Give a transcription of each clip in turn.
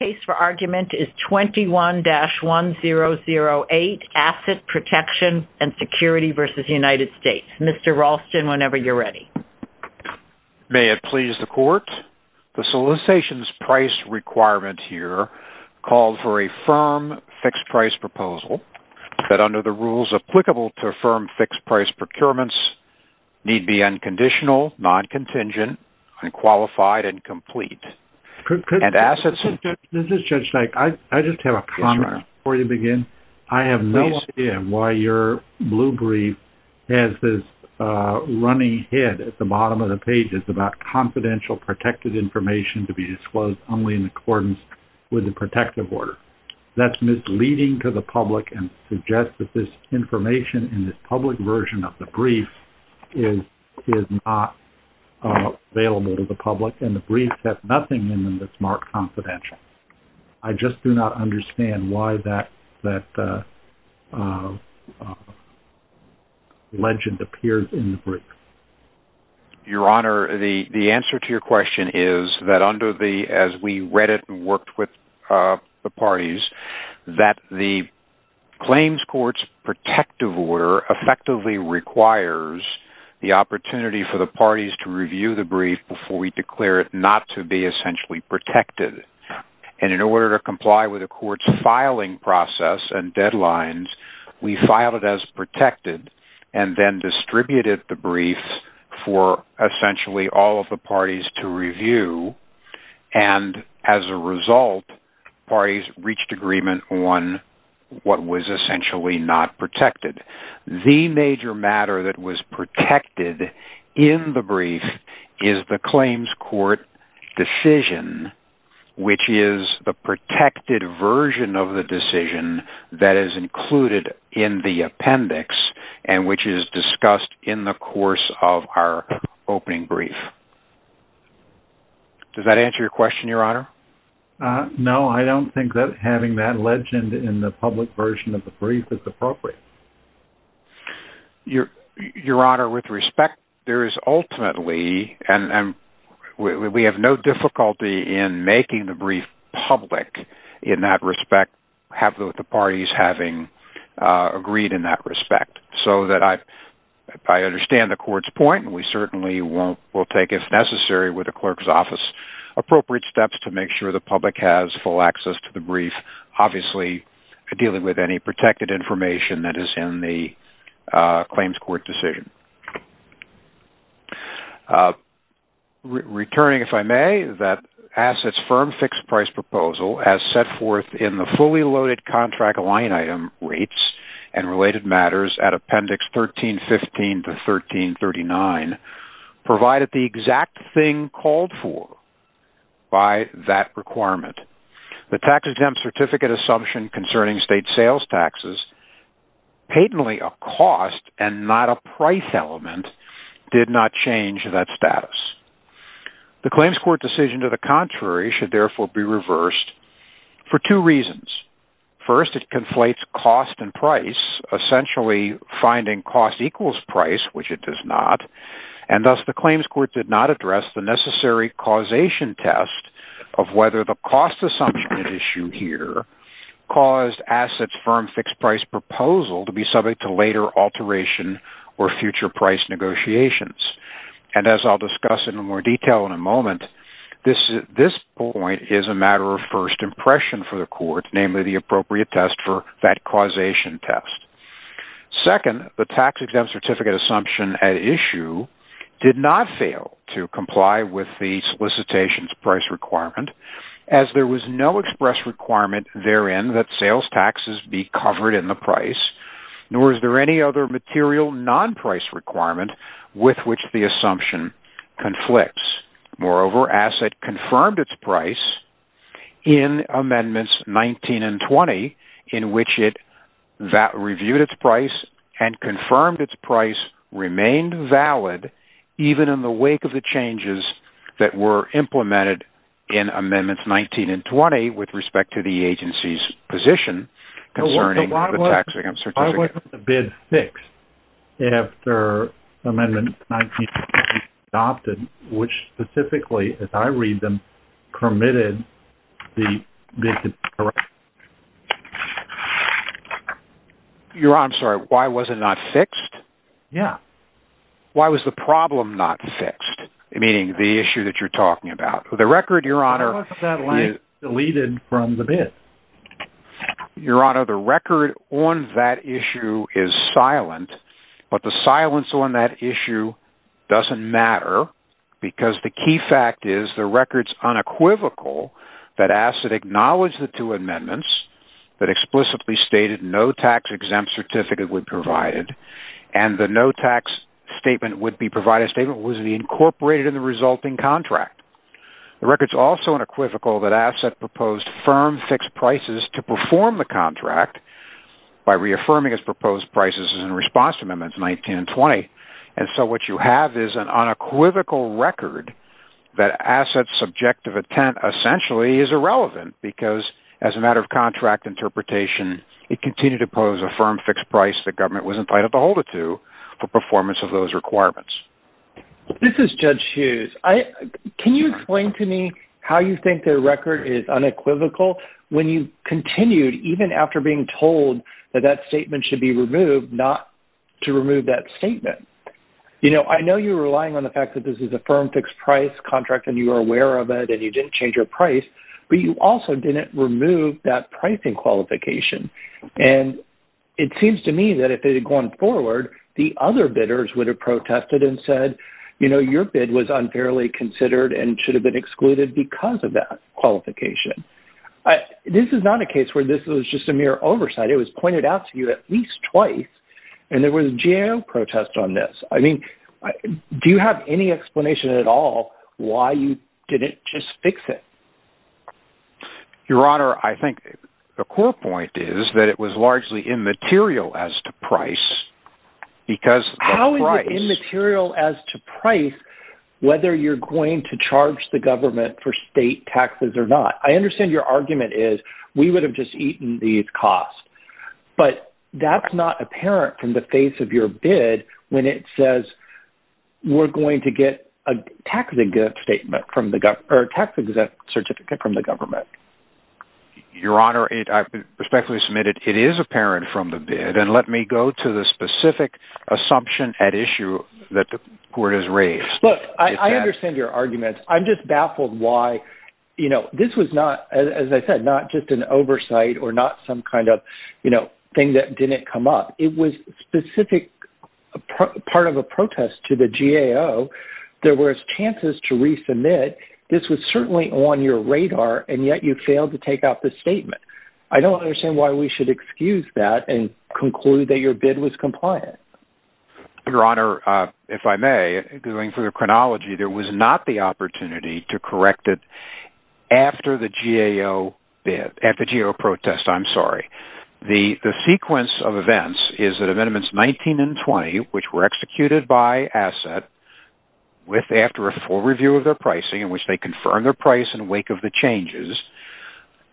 The case for argument is 21-1008, Asset Protection and Security v. United States. Mr. Ralston, whenever you're ready. May it please the Court, the solicitation's price requirement here calls for a firm fixed price proposal that under the rules applicable to firm fixed price procurements need be unconditional, non-contingent, unqualified, and complete. This is Judge Dyke. I just have a comment before you begin. I have no idea why your blue brief has this running head at the bottom of the page. It's about confidential protected information to be disclosed only in accordance with the protective order. That's misleading to the public and suggests that this information in this public version of the brief is not available to the public, and the brief has nothing in it that's marked confidential. I just do not understand why that legend appears in the brief. Your Honor, the answer to your question is that under the, as we read it and worked with the parties, that the claims court's protective order effectively requires the opportunity for the parties to review the brief before we declare it not to be essentially protected. In order to comply with the court's filing process and deadlines, we filed it as protected and then distributed the brief for essentially all of the parties to review. As a result, parties reached agreement on what was essentially not protected. The major matter that was protected in the brief is the claims court decision, which is the protected version of the decision that is included in the appendix and which is discussed in the course of our opening brief. Does that answer your question, Your Honor? No, I don't think that having that legend in the public version of the brief is appropriate. Your Honor, with respect, there is ultimately, and we have no difficulty in making the brief public in that respect, have the parties having agreed in that respect. So that I understand the court's point and we certainly will take, if necessary, with the clerk's office, appropriate steps to make sure the public has full access to the brief, obviously dealing with any protected information that is in the claims court decision. Returning, if I may, that assets firm fixed price proposal as set forth in the fully loaded contract line item rates and related matters at appendix 1315 to 1339 provided the exact thing called for by that requirement. The tax exempt certificate assumption concerning state sales taxes, patently a cost and not a price element, did not change that status. The claims court decision to the contrary should therefore be reversed for two reasons. First, it conflates cost and price, essentially finding cost equals price, which it does not, and thus the claims court did not address the necessary causation test of whether the cost assumption at issue here caused assets firm fixed price proposal to be subject to later alteration or future price negotiations. And as I'll discuss in more detail in a moment, this point is a matter of first impression for the court, namely the appropriate test for that causation test. Second, the tax exempt certificate assumption at issue did not fail to comply with the solicitation's price requirement as there was no express requirement therein that sales taxes be covered in the price, nor is there any other material non-price requirement with which the assumption conflicts. Moreover, asset confirmed its price in Amendments 19 and 20, in which it reviewed its price and confirmed its price remained valid even in the wake of the changes that were implemented in Amendments 19 and 20 with respect to the agency's position concerning the tax exempt certificate. Why wasn't the bid fixed after Amendments 19 and 20 were adopted, which specifically, as I read them, permitted the bid to be corrected? Your Honor, I'm sorry, why was it not fixed? Yeah. Why was the problem not fixed, meaning the issue that you're talking about? The record, Your Honor, is deleted from the bid. Your Honor, the record on that issue is silent, but the silence on that issue doesn't matter because the key fact is the record's unequivocal that Asset acknowledged the two Amendments that explicitly stated no tax exempt certificate would be provided and the no tax statement would be provided, it was incorporated in the resulting contract. The record's also unequivocal that Asset proposed firm fixed prices to perform the contract by reaffirming its proposed prices in response to Amendments 19 and 20, and so what you have is an unequivocal record that Asset's subjective intent essentially is irrelevant because as a matter of contract interpretation, it continued to pose a firm fixed price the government was entitled to hold it to for performance of those requirements. This is Judge Hughes. Can you explain to me how you think the record is unequivocal when you continued, even after being told that that statement should be removed, not to remove that statement? You know, I know you're relying on the fact that this is a firm fixed price contract and you were aware of it and you didn't change your price, but you also didn't remove that pricing qualification, and it seems to me that if it had gone forward, the other bidders would have protested and said, you know, your bid was unfairly considered and should have been excluded because of that qualification. This is not a case where this was just a mere oversight. It was pointed out to you at least twice, and there was a GAO protest on this. I mean, do you have any explanation at all why you didn't just fix it? Your Honor, I think the core point is that it was largely immaterial as to price How is it immaterial as to price whether you're going to charge the government for state taxes or not? I understand your argument is we would have just eaten these costs, but that's not apparent from the face of your bid when it says we're going to get a tax exempt certificate from the government. Your Honor, I respectfully submit it is apparent from the bid, and let me go to the specific assumption at issue that the court has raised. Look, I understand your argument. I'm just baffled why, you know, this was not, as I said, not just an oversight or not some kind of, you know, thing that didn't come up. It was a specific part of a protest to the GAO. There were chances to resubmit. This was certainly on your radar, and yet you failed to take out the statement. I don't understand why we should excuse that and conclude that your bid was compliant. Your Honor, if I may, going through the chronology, there was not the opportunity to correct it after the GAO bid, at the GAO protest, I'm sorry. The sequence of events is that Amendments 19 and 20, which were executed by asset after a full review of their pricing in which they confirmed their price in the wake of the changes,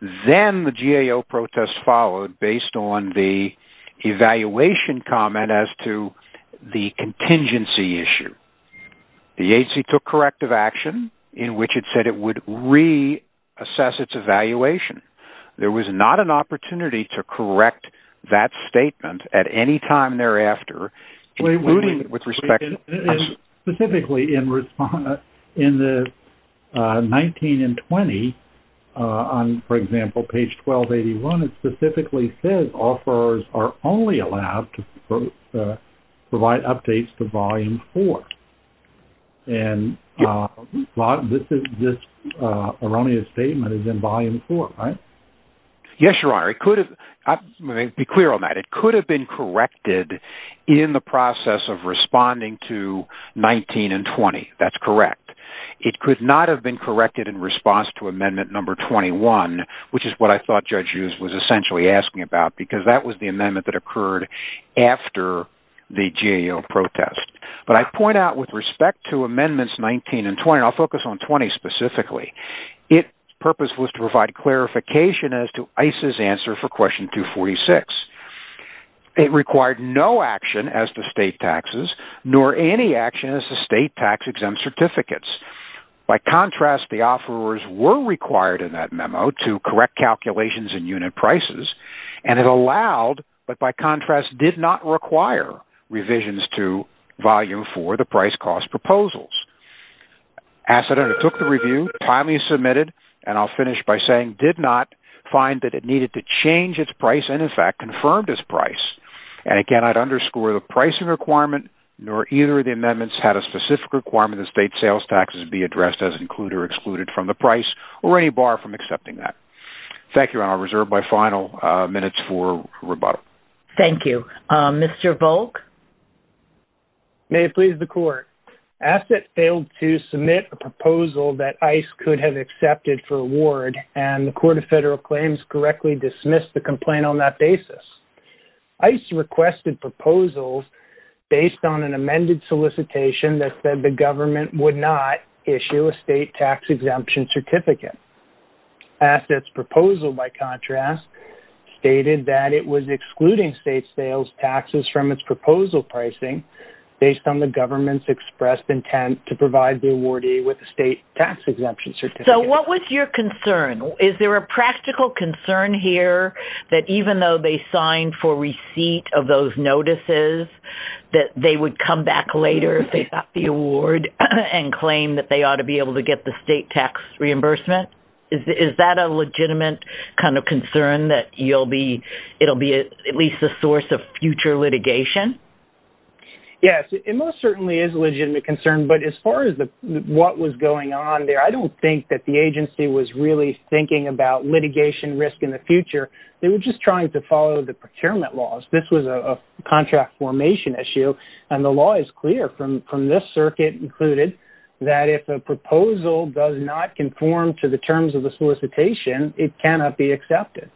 then the GAO protest followed based on the evaluation comment as to the contingency issue. The agency took corrective action in which it said it would reassess its evaluation. There was not an opportunity to correct that statement at any time thereafter. Specifically in the 19 and 20, on, for example, page 1281, it specifically says offerors are only allowed to provide updates to Volume 4. And this erroneous statement is in Volume 4, right? Yes, Your Honor. Let me be clear on that. It could have been corrected in the process of responding to 19 and 20. That's correct. It could not have been corrected in response to Amendment Number 21, which is what I thought Judge Hughes was essentially asking about because that was the amendment that occurred after the GAO protest. But I point out with respect to Amendments 19 and 20, and I'll focus on 20 specifically, its purpose was to provide clarification as to ICE's answer for Question 246. It required no action as to state taxes, nor any action as to state tax-exempt certificates. By contrast, the offerors were required in that memo to correct calculations in unit prices, and it allowed, but by contrast did not require, revisions to Volume 4, the price-cost proposals. Asset undertook the review, highly submitted, and I'll finish by saying, did not find that it needed to change its price and, in fact, confirmed its price. And again, I'd underscore the pricing requirement, nor either of the amendments had a specific requirement that state sales taxes be addressed as included or excluded from the price or any bar from accepting that. Thank you, Your Honor. I'll reserve my final minutes for rebuttal. Thank you. Mr. Volk? May it please the Court. Asset failed to submit a proposal that ICE could have accepted for award, and the Court of Federal Claims correctly dismissed the complaint on that basis. ICE requested proposals based on an amended solicitation that said the government would not issue a state tax-exemption certificate. Asset's proposal, by contrast, stated that it was excluding state sales taxes from its proposal pricing based on the government's expressed intent to provide the awardee with a state tax-exemption certificate. So what was your concern? Is there a practical concern here that even though they signed for receipt of those notices, that they would come back later if they got the award and claim that they ought to be able to get the state tax reimbursement? Is that a legitimate kind of concern that it will be at least a source of future litigation? Yes, it most certainly is a legitimate concern. But as far as what was going on there, I don't think that the agency was really thinking about litigation risk in the future. They were just trying to follow the procurement laws. This was a contract formation issue, and the law is clear from this circuit included that if a proposal does not conform to the terms of the solicitation, it cannot be accepted.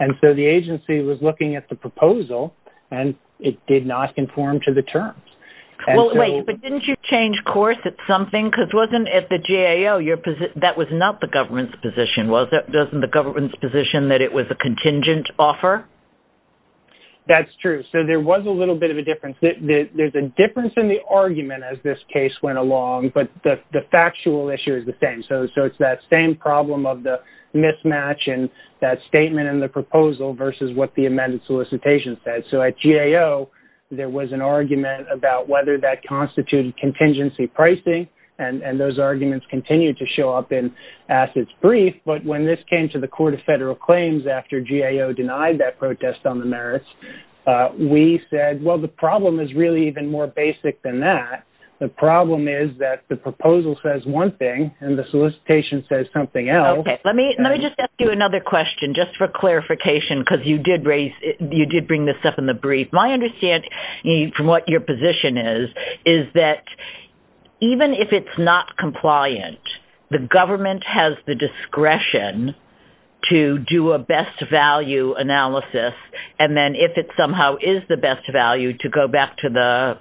And so the agency was looking at the proposal, and it did not conform to the terms. Wait, but didn't you change course at something? Because wasn't at the GAO, that was not the government's position, was it? Wasn't the government's position that it was a contingent offer? That's true. So there was a little bit of a difference. There's a difference in the argument as this case went along, but the factual issue is the same. So it's that same problem of the mismatch in that statement and the proposal versus what the amended solicitation said. So at GAO, there was an argument about whether that constituted contingency pricing, and those arguments continued to show up in Assets Brief. But when this came to the Court of Federal Claims after GAO denied that protest on the merits, we said, well, the problem is really even more basic than that. The problem is that the proposal says one thing and the solicitation says something else. Let me just ask you another question just for clarification because you did bring this up in the brief. My understanding from what your position is is that even if it's not compliant, the government has the discretion to do a best value analysis, and then if it somehow is the best value, to go back to the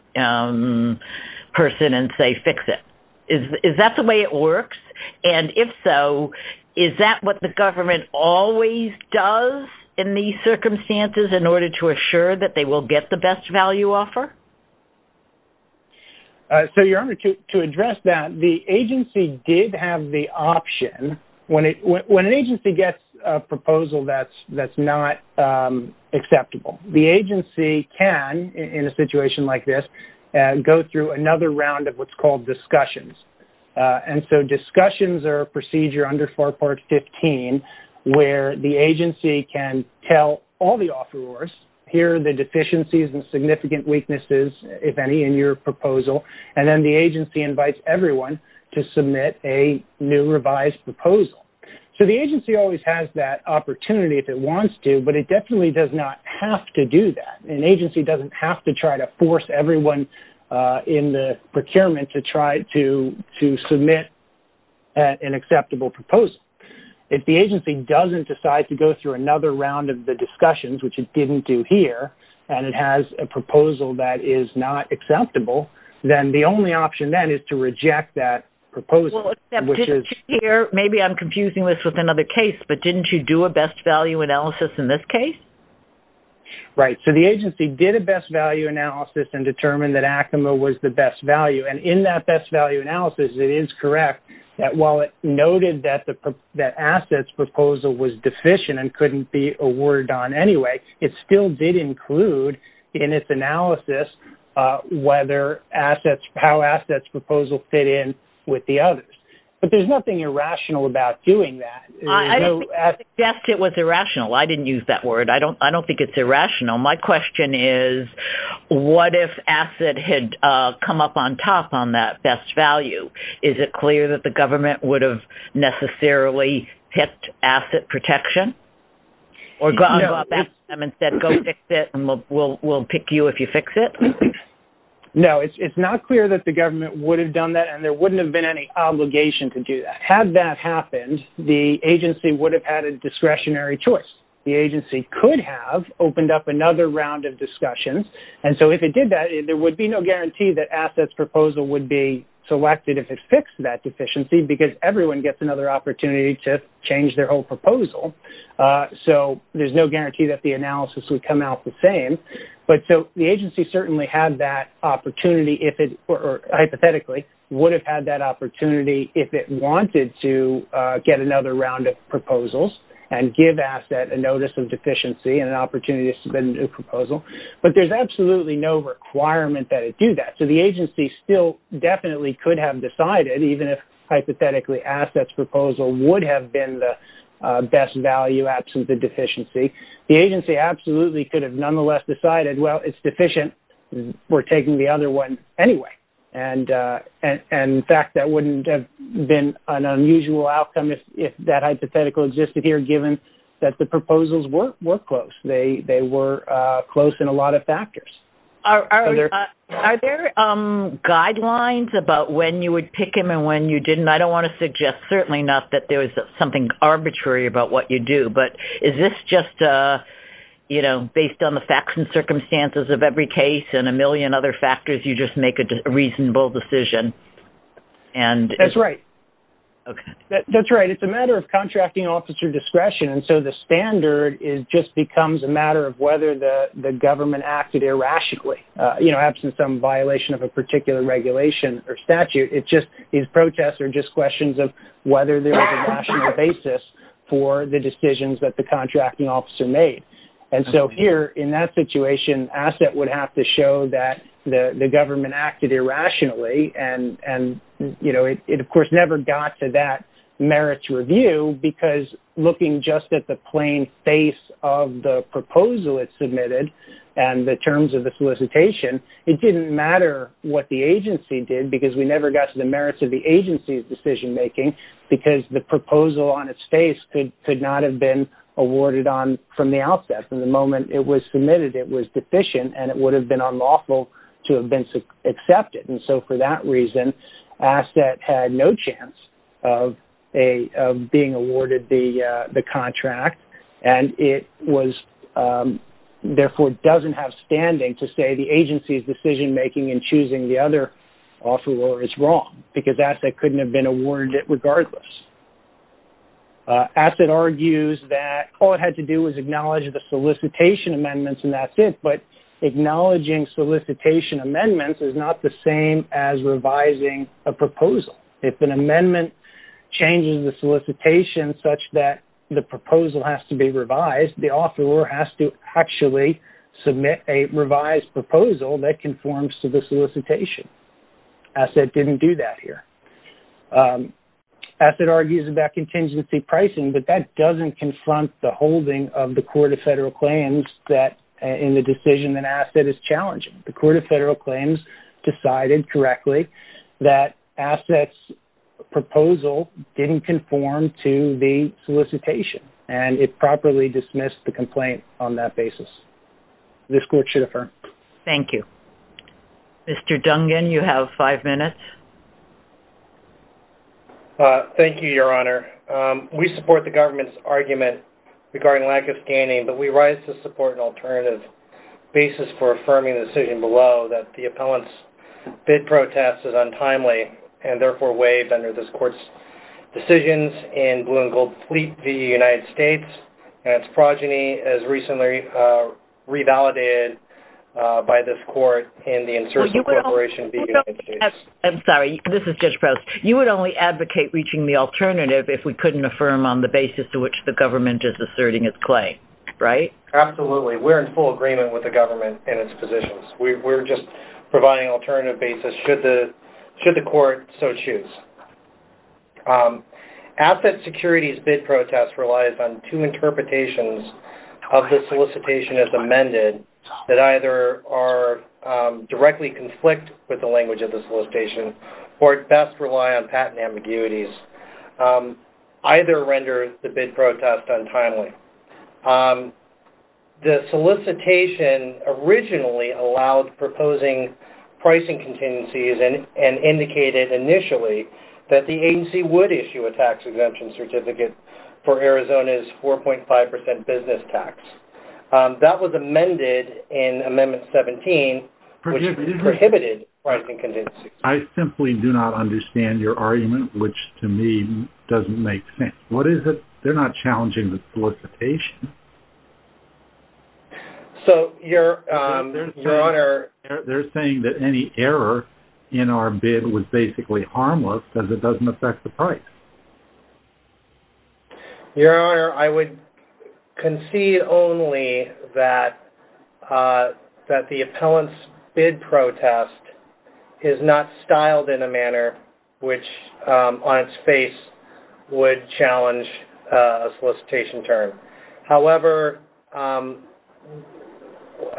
person and say fix it. Is that the way it works? And if so, is that what the government always does in these circumstances in order to assure that they will get the best value offer? So, Your Honor, to address that, the agency did have the option. When an agency gets a proposal that's not acceptable, the agency can, in a situation like this, go through another round of what's called discussions. And so discussions are a procedure under FAR Part 15 where the agency can tell all the offerors, here are the deficiencies and significant weaknesses, if any, in your proposal, and then the agency invites everyone to submit a new revised proposal. So the agency always has that opportunity if it wants to, but it definitely does not have to do that. An agency doesn't have to try to force everyone in the procurement to try to submit an acceptable proposal. If the agency doesn't decide to go through another round of the discussions, which it didn't do here, and it has a proposal that is not acceptable, then the only option then is to reject that proposal. Maybe I'm confusing this with another case, but didn't you do a best value analysis in this case? Right. So the agency did a best value analysis and determined that ACIMA was the best value. And in that best value analysis, it is correct that while it noted that assets proposal was deficient and couldn't be awarded on anyway, it still did include in its analysis how assets proposal fit in with the others. But there's nothing irrational about doing that. I didn't suggest it was irrational. I didn't use that word. I don't think it's irrational. My question is, what if ACIMA had come up on top on that best value? Is it clear that the government would have necessarily picked asset protection? Or go back to them and say, go fix it, and we'll pick you if you fix it? No, it's not clear that the government would have done that, and there wouldn't have been any obligation to do that. Had that happened, the agency would have had a discretionary choice. The agency could have opened up another round of discussions. And so if it did that, there would be no guarantee that assets proposal would be selected if it fixed that deficiency because everyone gets another opportunity to change their whole proposal. So there's no guarantee that the analysis would come out the same. But so the agency certainly had that opportunity, or hypothetically would have had that opportunity if it wanted to get another round of proposals and give asset a notice of deficiency and an opportunity to submit a new proposal. But there's absolutely no requirement that it do that. So the agency still definitely could have decided, even if hypothetically assets proposal would have been the best value absent the deficiency. The agency absolutely could have nonetheless decided, well, it's deficient. We're taking the other one anyway. And, in fact, that wouldn't have been an unusual outcome if that hypothetical existed here, given that the proposals were close. They were close in a lot of factors. Are there guidelines about when you would pick them and when you didn't? I don't want to suggest certainly enough that there was something arbitrary about what you do, but is this just, you know, based on the facts and circumstances of every case and a million other factors you just make a reasonable decision? That's right. That's right. It's a matter of contracting officer discretion. And so the standard just becomes a matter of whether the government acted irrationally, you know, absent some violation of a particular regulation or statute. These protests are just questions of whether there was a rational basis for the decisions that the contracting officer made. And so here in that situation, asset would have to show that the government acted irrationally. And, you know, it, of course, never got to that merits review because looking just at the plain face of the proposal it submitted and the terms of the solicitation, it didn't matter what the agency did because we never got to the merits of the agency's decision making because the proposal on its face could not have been awarded on from the outset. From the moment it was submitted it was deficient and it would have been unlawful to have been accepted. And so for that reason, asset had no chance of being awarded the contract and it was therefore doesn't have standing to say the agency's decision making and choosing the other offeror is wrong because asset couldn't have been awarded regardless. Asset argues that all it had to do was acknowledge the solicitation amendments and that's it. But acknowledging solicitation amendments is not the same as revising a proposal. If an amendment changes the solicitation such that the proposal has to be revised, the offeror has to actually submit a revised proposal that conforms to the solicitation. Asset didn't do that here. Asset argues about contingency pricing but that doesn't confront the holding of the Court of Federal Claims that in the decision that asset is challenging. The Court of Federal Claims decided correctly that asset's proposal didn't conform to the solicitation and it properly dismissed the complaint on that basis. This Court should affirm. Thank you. Mr. Dungan, you have five minutes. Thank you, Your Honor. We support the government's argument regarding lack of standing but we rise to support an alternative basis for affirming the decision below that the appellant's bid protest is untimely and therefore waived under this Court's decisions in blue and gold fleet v. United States and its progeny as recently revalidated by this Court in the insertion corporation v. United States. I'm sorry. This is Judge Prowse. You would only advocate reaching the alternative if we couldn't affirm on the basis to which the government is asserting its claim, right? Absolutely. We're in full agreement with the government and its positions. We're just providing an alternative basis should the Court so choose. Asset Security's bid protest relies on two interpretations of the solicitation as amended that either directly conflict with the language of the solicitation or at best rely on patent ambiguities. Either renders the bid protest untimely. The solicitation originally allowed proposing pricing contingencies and indicated initially that the agency would issue a tax exemption certificate for Arizona's 4.5% business tax. That was amended in Amendment 17 which prohibited pricing contingencies. I simply do not understand your argument which to me doesn't make sense. What is it? They're not challenging the solicitation. They're saying that any error in our bid was basically harmless because it doesn't affect the price. Your Honor, I would concede only that the appellant's bid protest is not styled in a manner which on its face would challenge a solicitation term. However,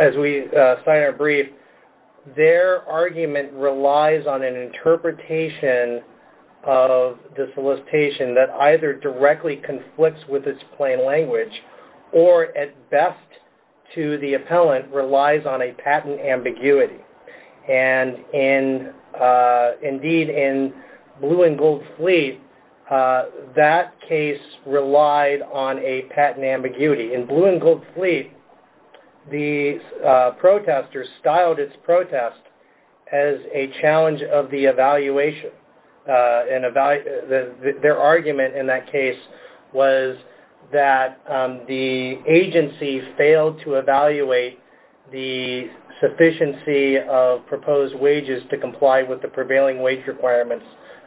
as we sign our brief, their argument relies on an interpretation of the solicitation that either directly conflicts with its plain language or at best to the appellant relies on a patent ambiguity. Indeed, in Blue and Gold Fleet, that case relied on a patent ambiguity. In Blue and Gold Fleet, the protesters styled its protest as a challenge of the evaluation. Their argument in that case was that the agency failed to evaluate the sufficiency of proposed wages to comply with the prevailing wage requirements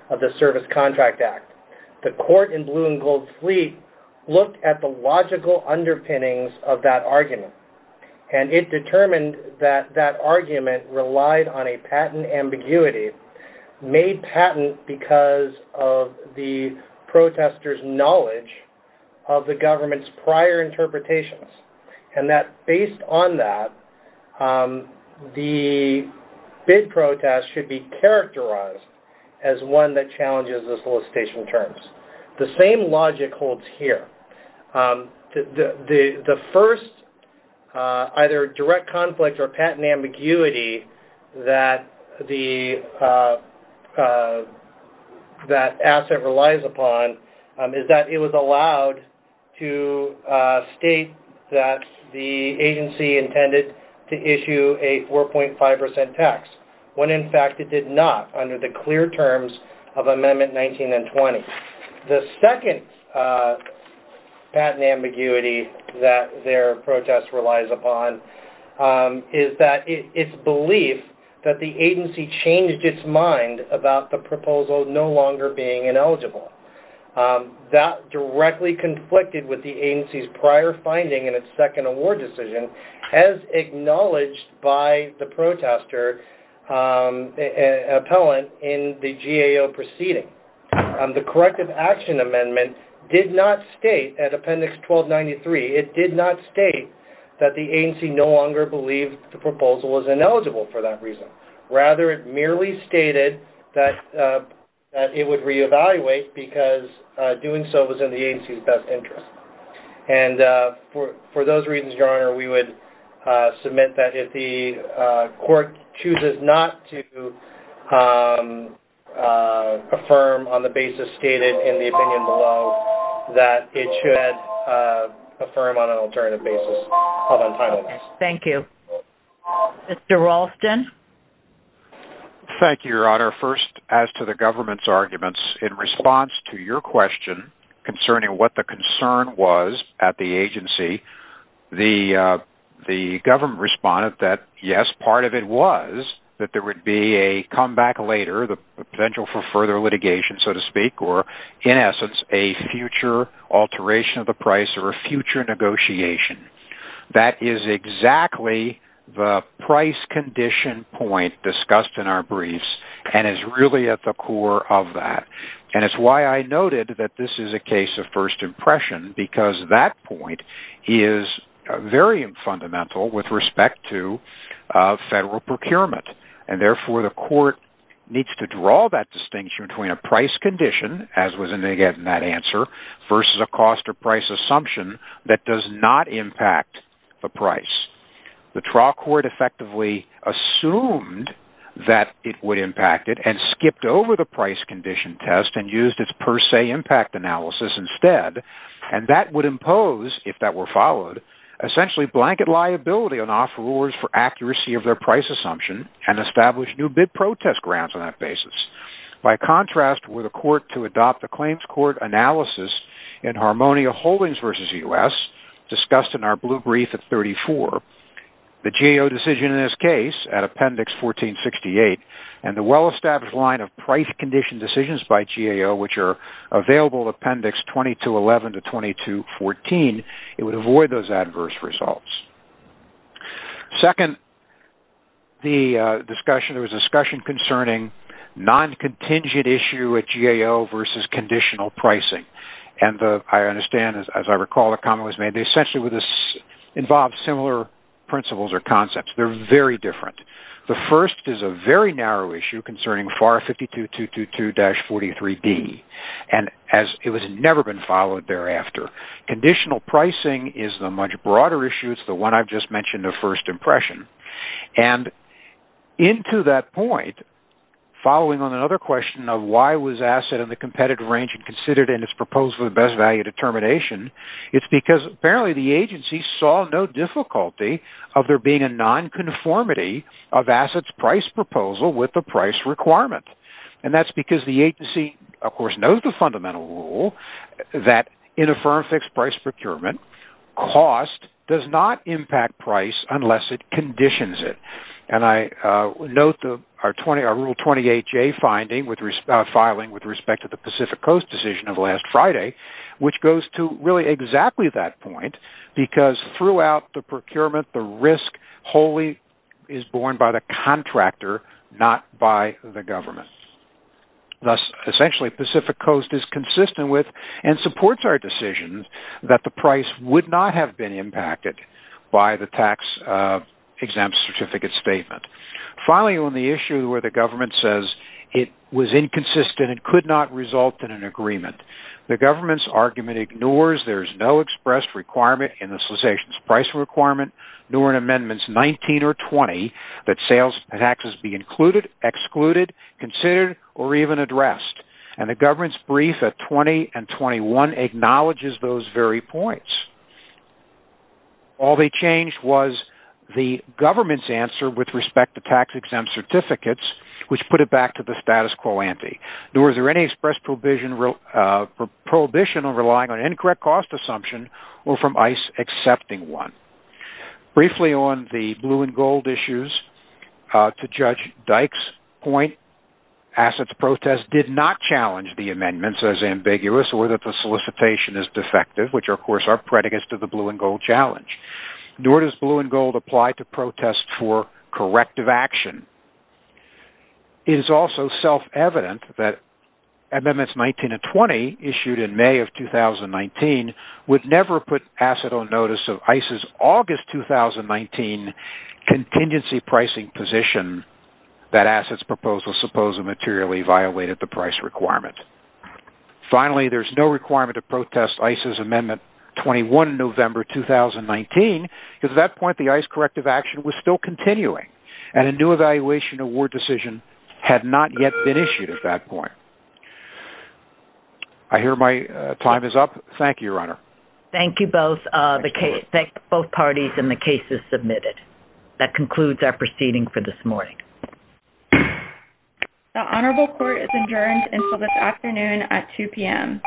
of the Service Contract Act. The court in Blue and Gold Fleet looked at the logical underpinnings of that argument and it determined that that argument relied on a patent ambiguity, made patent because of the protesters' knowledge of the government's prior interpretations and that based on that, the bid protest should be characterized as one that challenges the solicitation terms. The same logic holds here. The first either direct conflict or patent ambiguity that the asset relies upon is that it was allowed to state that the agency intended to issue a 4.5% tax when in fact it did not under the clear terms of Amendment 19 and 20. The second patent ambiguity that their protest relies upon is that its belief that the agency changed its mind about the proposal no longer being ineligible. That directly conflicted with the agency's prior finding in its second award decision as acknowledged by the protester appellant in the GAO proceeding. The Corrective Action Amendment did not state at Appendix 1293, it did not state that the agency no longer believed the proposal was ineligible for that reason. Rather, it merely stated that it would reevaluate because doing so was in the agency's best interest. And for those reasons, Your Honor, we would submit that if the court chooses not to affirm on the basis stated in the opinion below, that it should affirm on an alternative basis. Hold on time, please. Thank you. Mr. Raulston. Thank you, Your Honor. First, as to the government's arguments, in response to your question concerning what the concern was at the agency, the government responded that, yes, part of it was that there would be a comeback later, the potential for further litigation, so to speak, or, in essence, a future alteration of the price or a future negotiation. That is exactly the price condition point discussed in our briefs and is really at the core of that. And it's why I noted that this is a case of first impression because that point is very fundamental with respect to federal procurement. And, therefore, the court needs to draw that distinction between a price condition, as was indicated in that answer, versus a cost or price assumption that does not impact the price. The trial court effectively assumed that it would impact it and skipped over the price condition test and used its per se impact analysis instead. And that would impose, if that were followed, essentially blanket liability on offerors for accuracy of their price assumption and establish new bid protest grounds on that basis. By contrast, were the court to adopt a claims court analysis in Harmonia Holdings v. U.S., discussed in our blue brief at 34, the GAO decision in this case at Appendix 1468 and the well-established line of price condition decisions by GAO, which are available Appendix 2211 to 2214, it would avoid those adverse results. Second, there was a discussion concerning non-contingent issue at GAO versus conditional pricing. And I understand, as I recall, a comment was made that essentially involved similar principles or concepts. They're very different. The first is a very narrow issue concerning FAR 52222-43B, and it has never been followed thereafter. Conditional pricing is the much broader issue. It's the one I've just mentioned of first impression. And into that point, following on another question of why was asset in the competitive range considered in its proposal of best value determination, it's because apparently the agency saw no difficulty of there being a non-conformity of assets price proposal with the price requirement. And that's because the agency, of course, knows the fundamental rule that in a firm-fixed price procurement, cost does not impact price unless it conditions it. And I note our Rule 28J filing with respect to the Pacific Coast decision of last Friday, which goes to really exactly that point, because throughout the procurement, the risk wholly is borne by the contractor, not by the government. Thus, essentially, Pacific Coast is consistent with and supports our decision that the price would not have been impacted by the tax exempt certificate statement. Finally, on the issue where the government says it was inconsistent and could not result in an agreement, the government's argument ignores there's no expressed requirement in the cessation's price requirement, nor in Amendments 19 or 20, that sales taxes be included, excluded, considered, or even addressed. And the government's brief at 20 and 21 acknowledges those very points. All they changed was the government's answer with respect to tax-exempt certificates, which put it back to the status quo ante, nor is there any expressed prohibition of relying on an incorrect cost assumption or from ICE accepting one. Briefly on the blue and gold issues, to Judge Dykes' point, assets protests did not challenge the amendments as ambiguous or that the solicitation is defective, which, of course, are predicates to the blue and gold challenge. Nor does blue and gold apply to protests for corrective action. It is also self-evident that Amendments 19 and 20, issued in May of 2019, would never put asset on notice of ICE's August 2019 contingency pricing position that asset's proposal supposedly materially violated the price requirement. Finally, there's no requirement to protest ICE's Amendment 21, November 2019, because at that point the ICE corrective action was still continuing and a new evaluation award decision had not yet been issued at that point. I hear my time is up. Thank you, Your Honor. Thank you both parties and the cases submitted. That concludes our proceeding for this morning. The Honorable Court is adjourned until this afternoon at 2 p.m.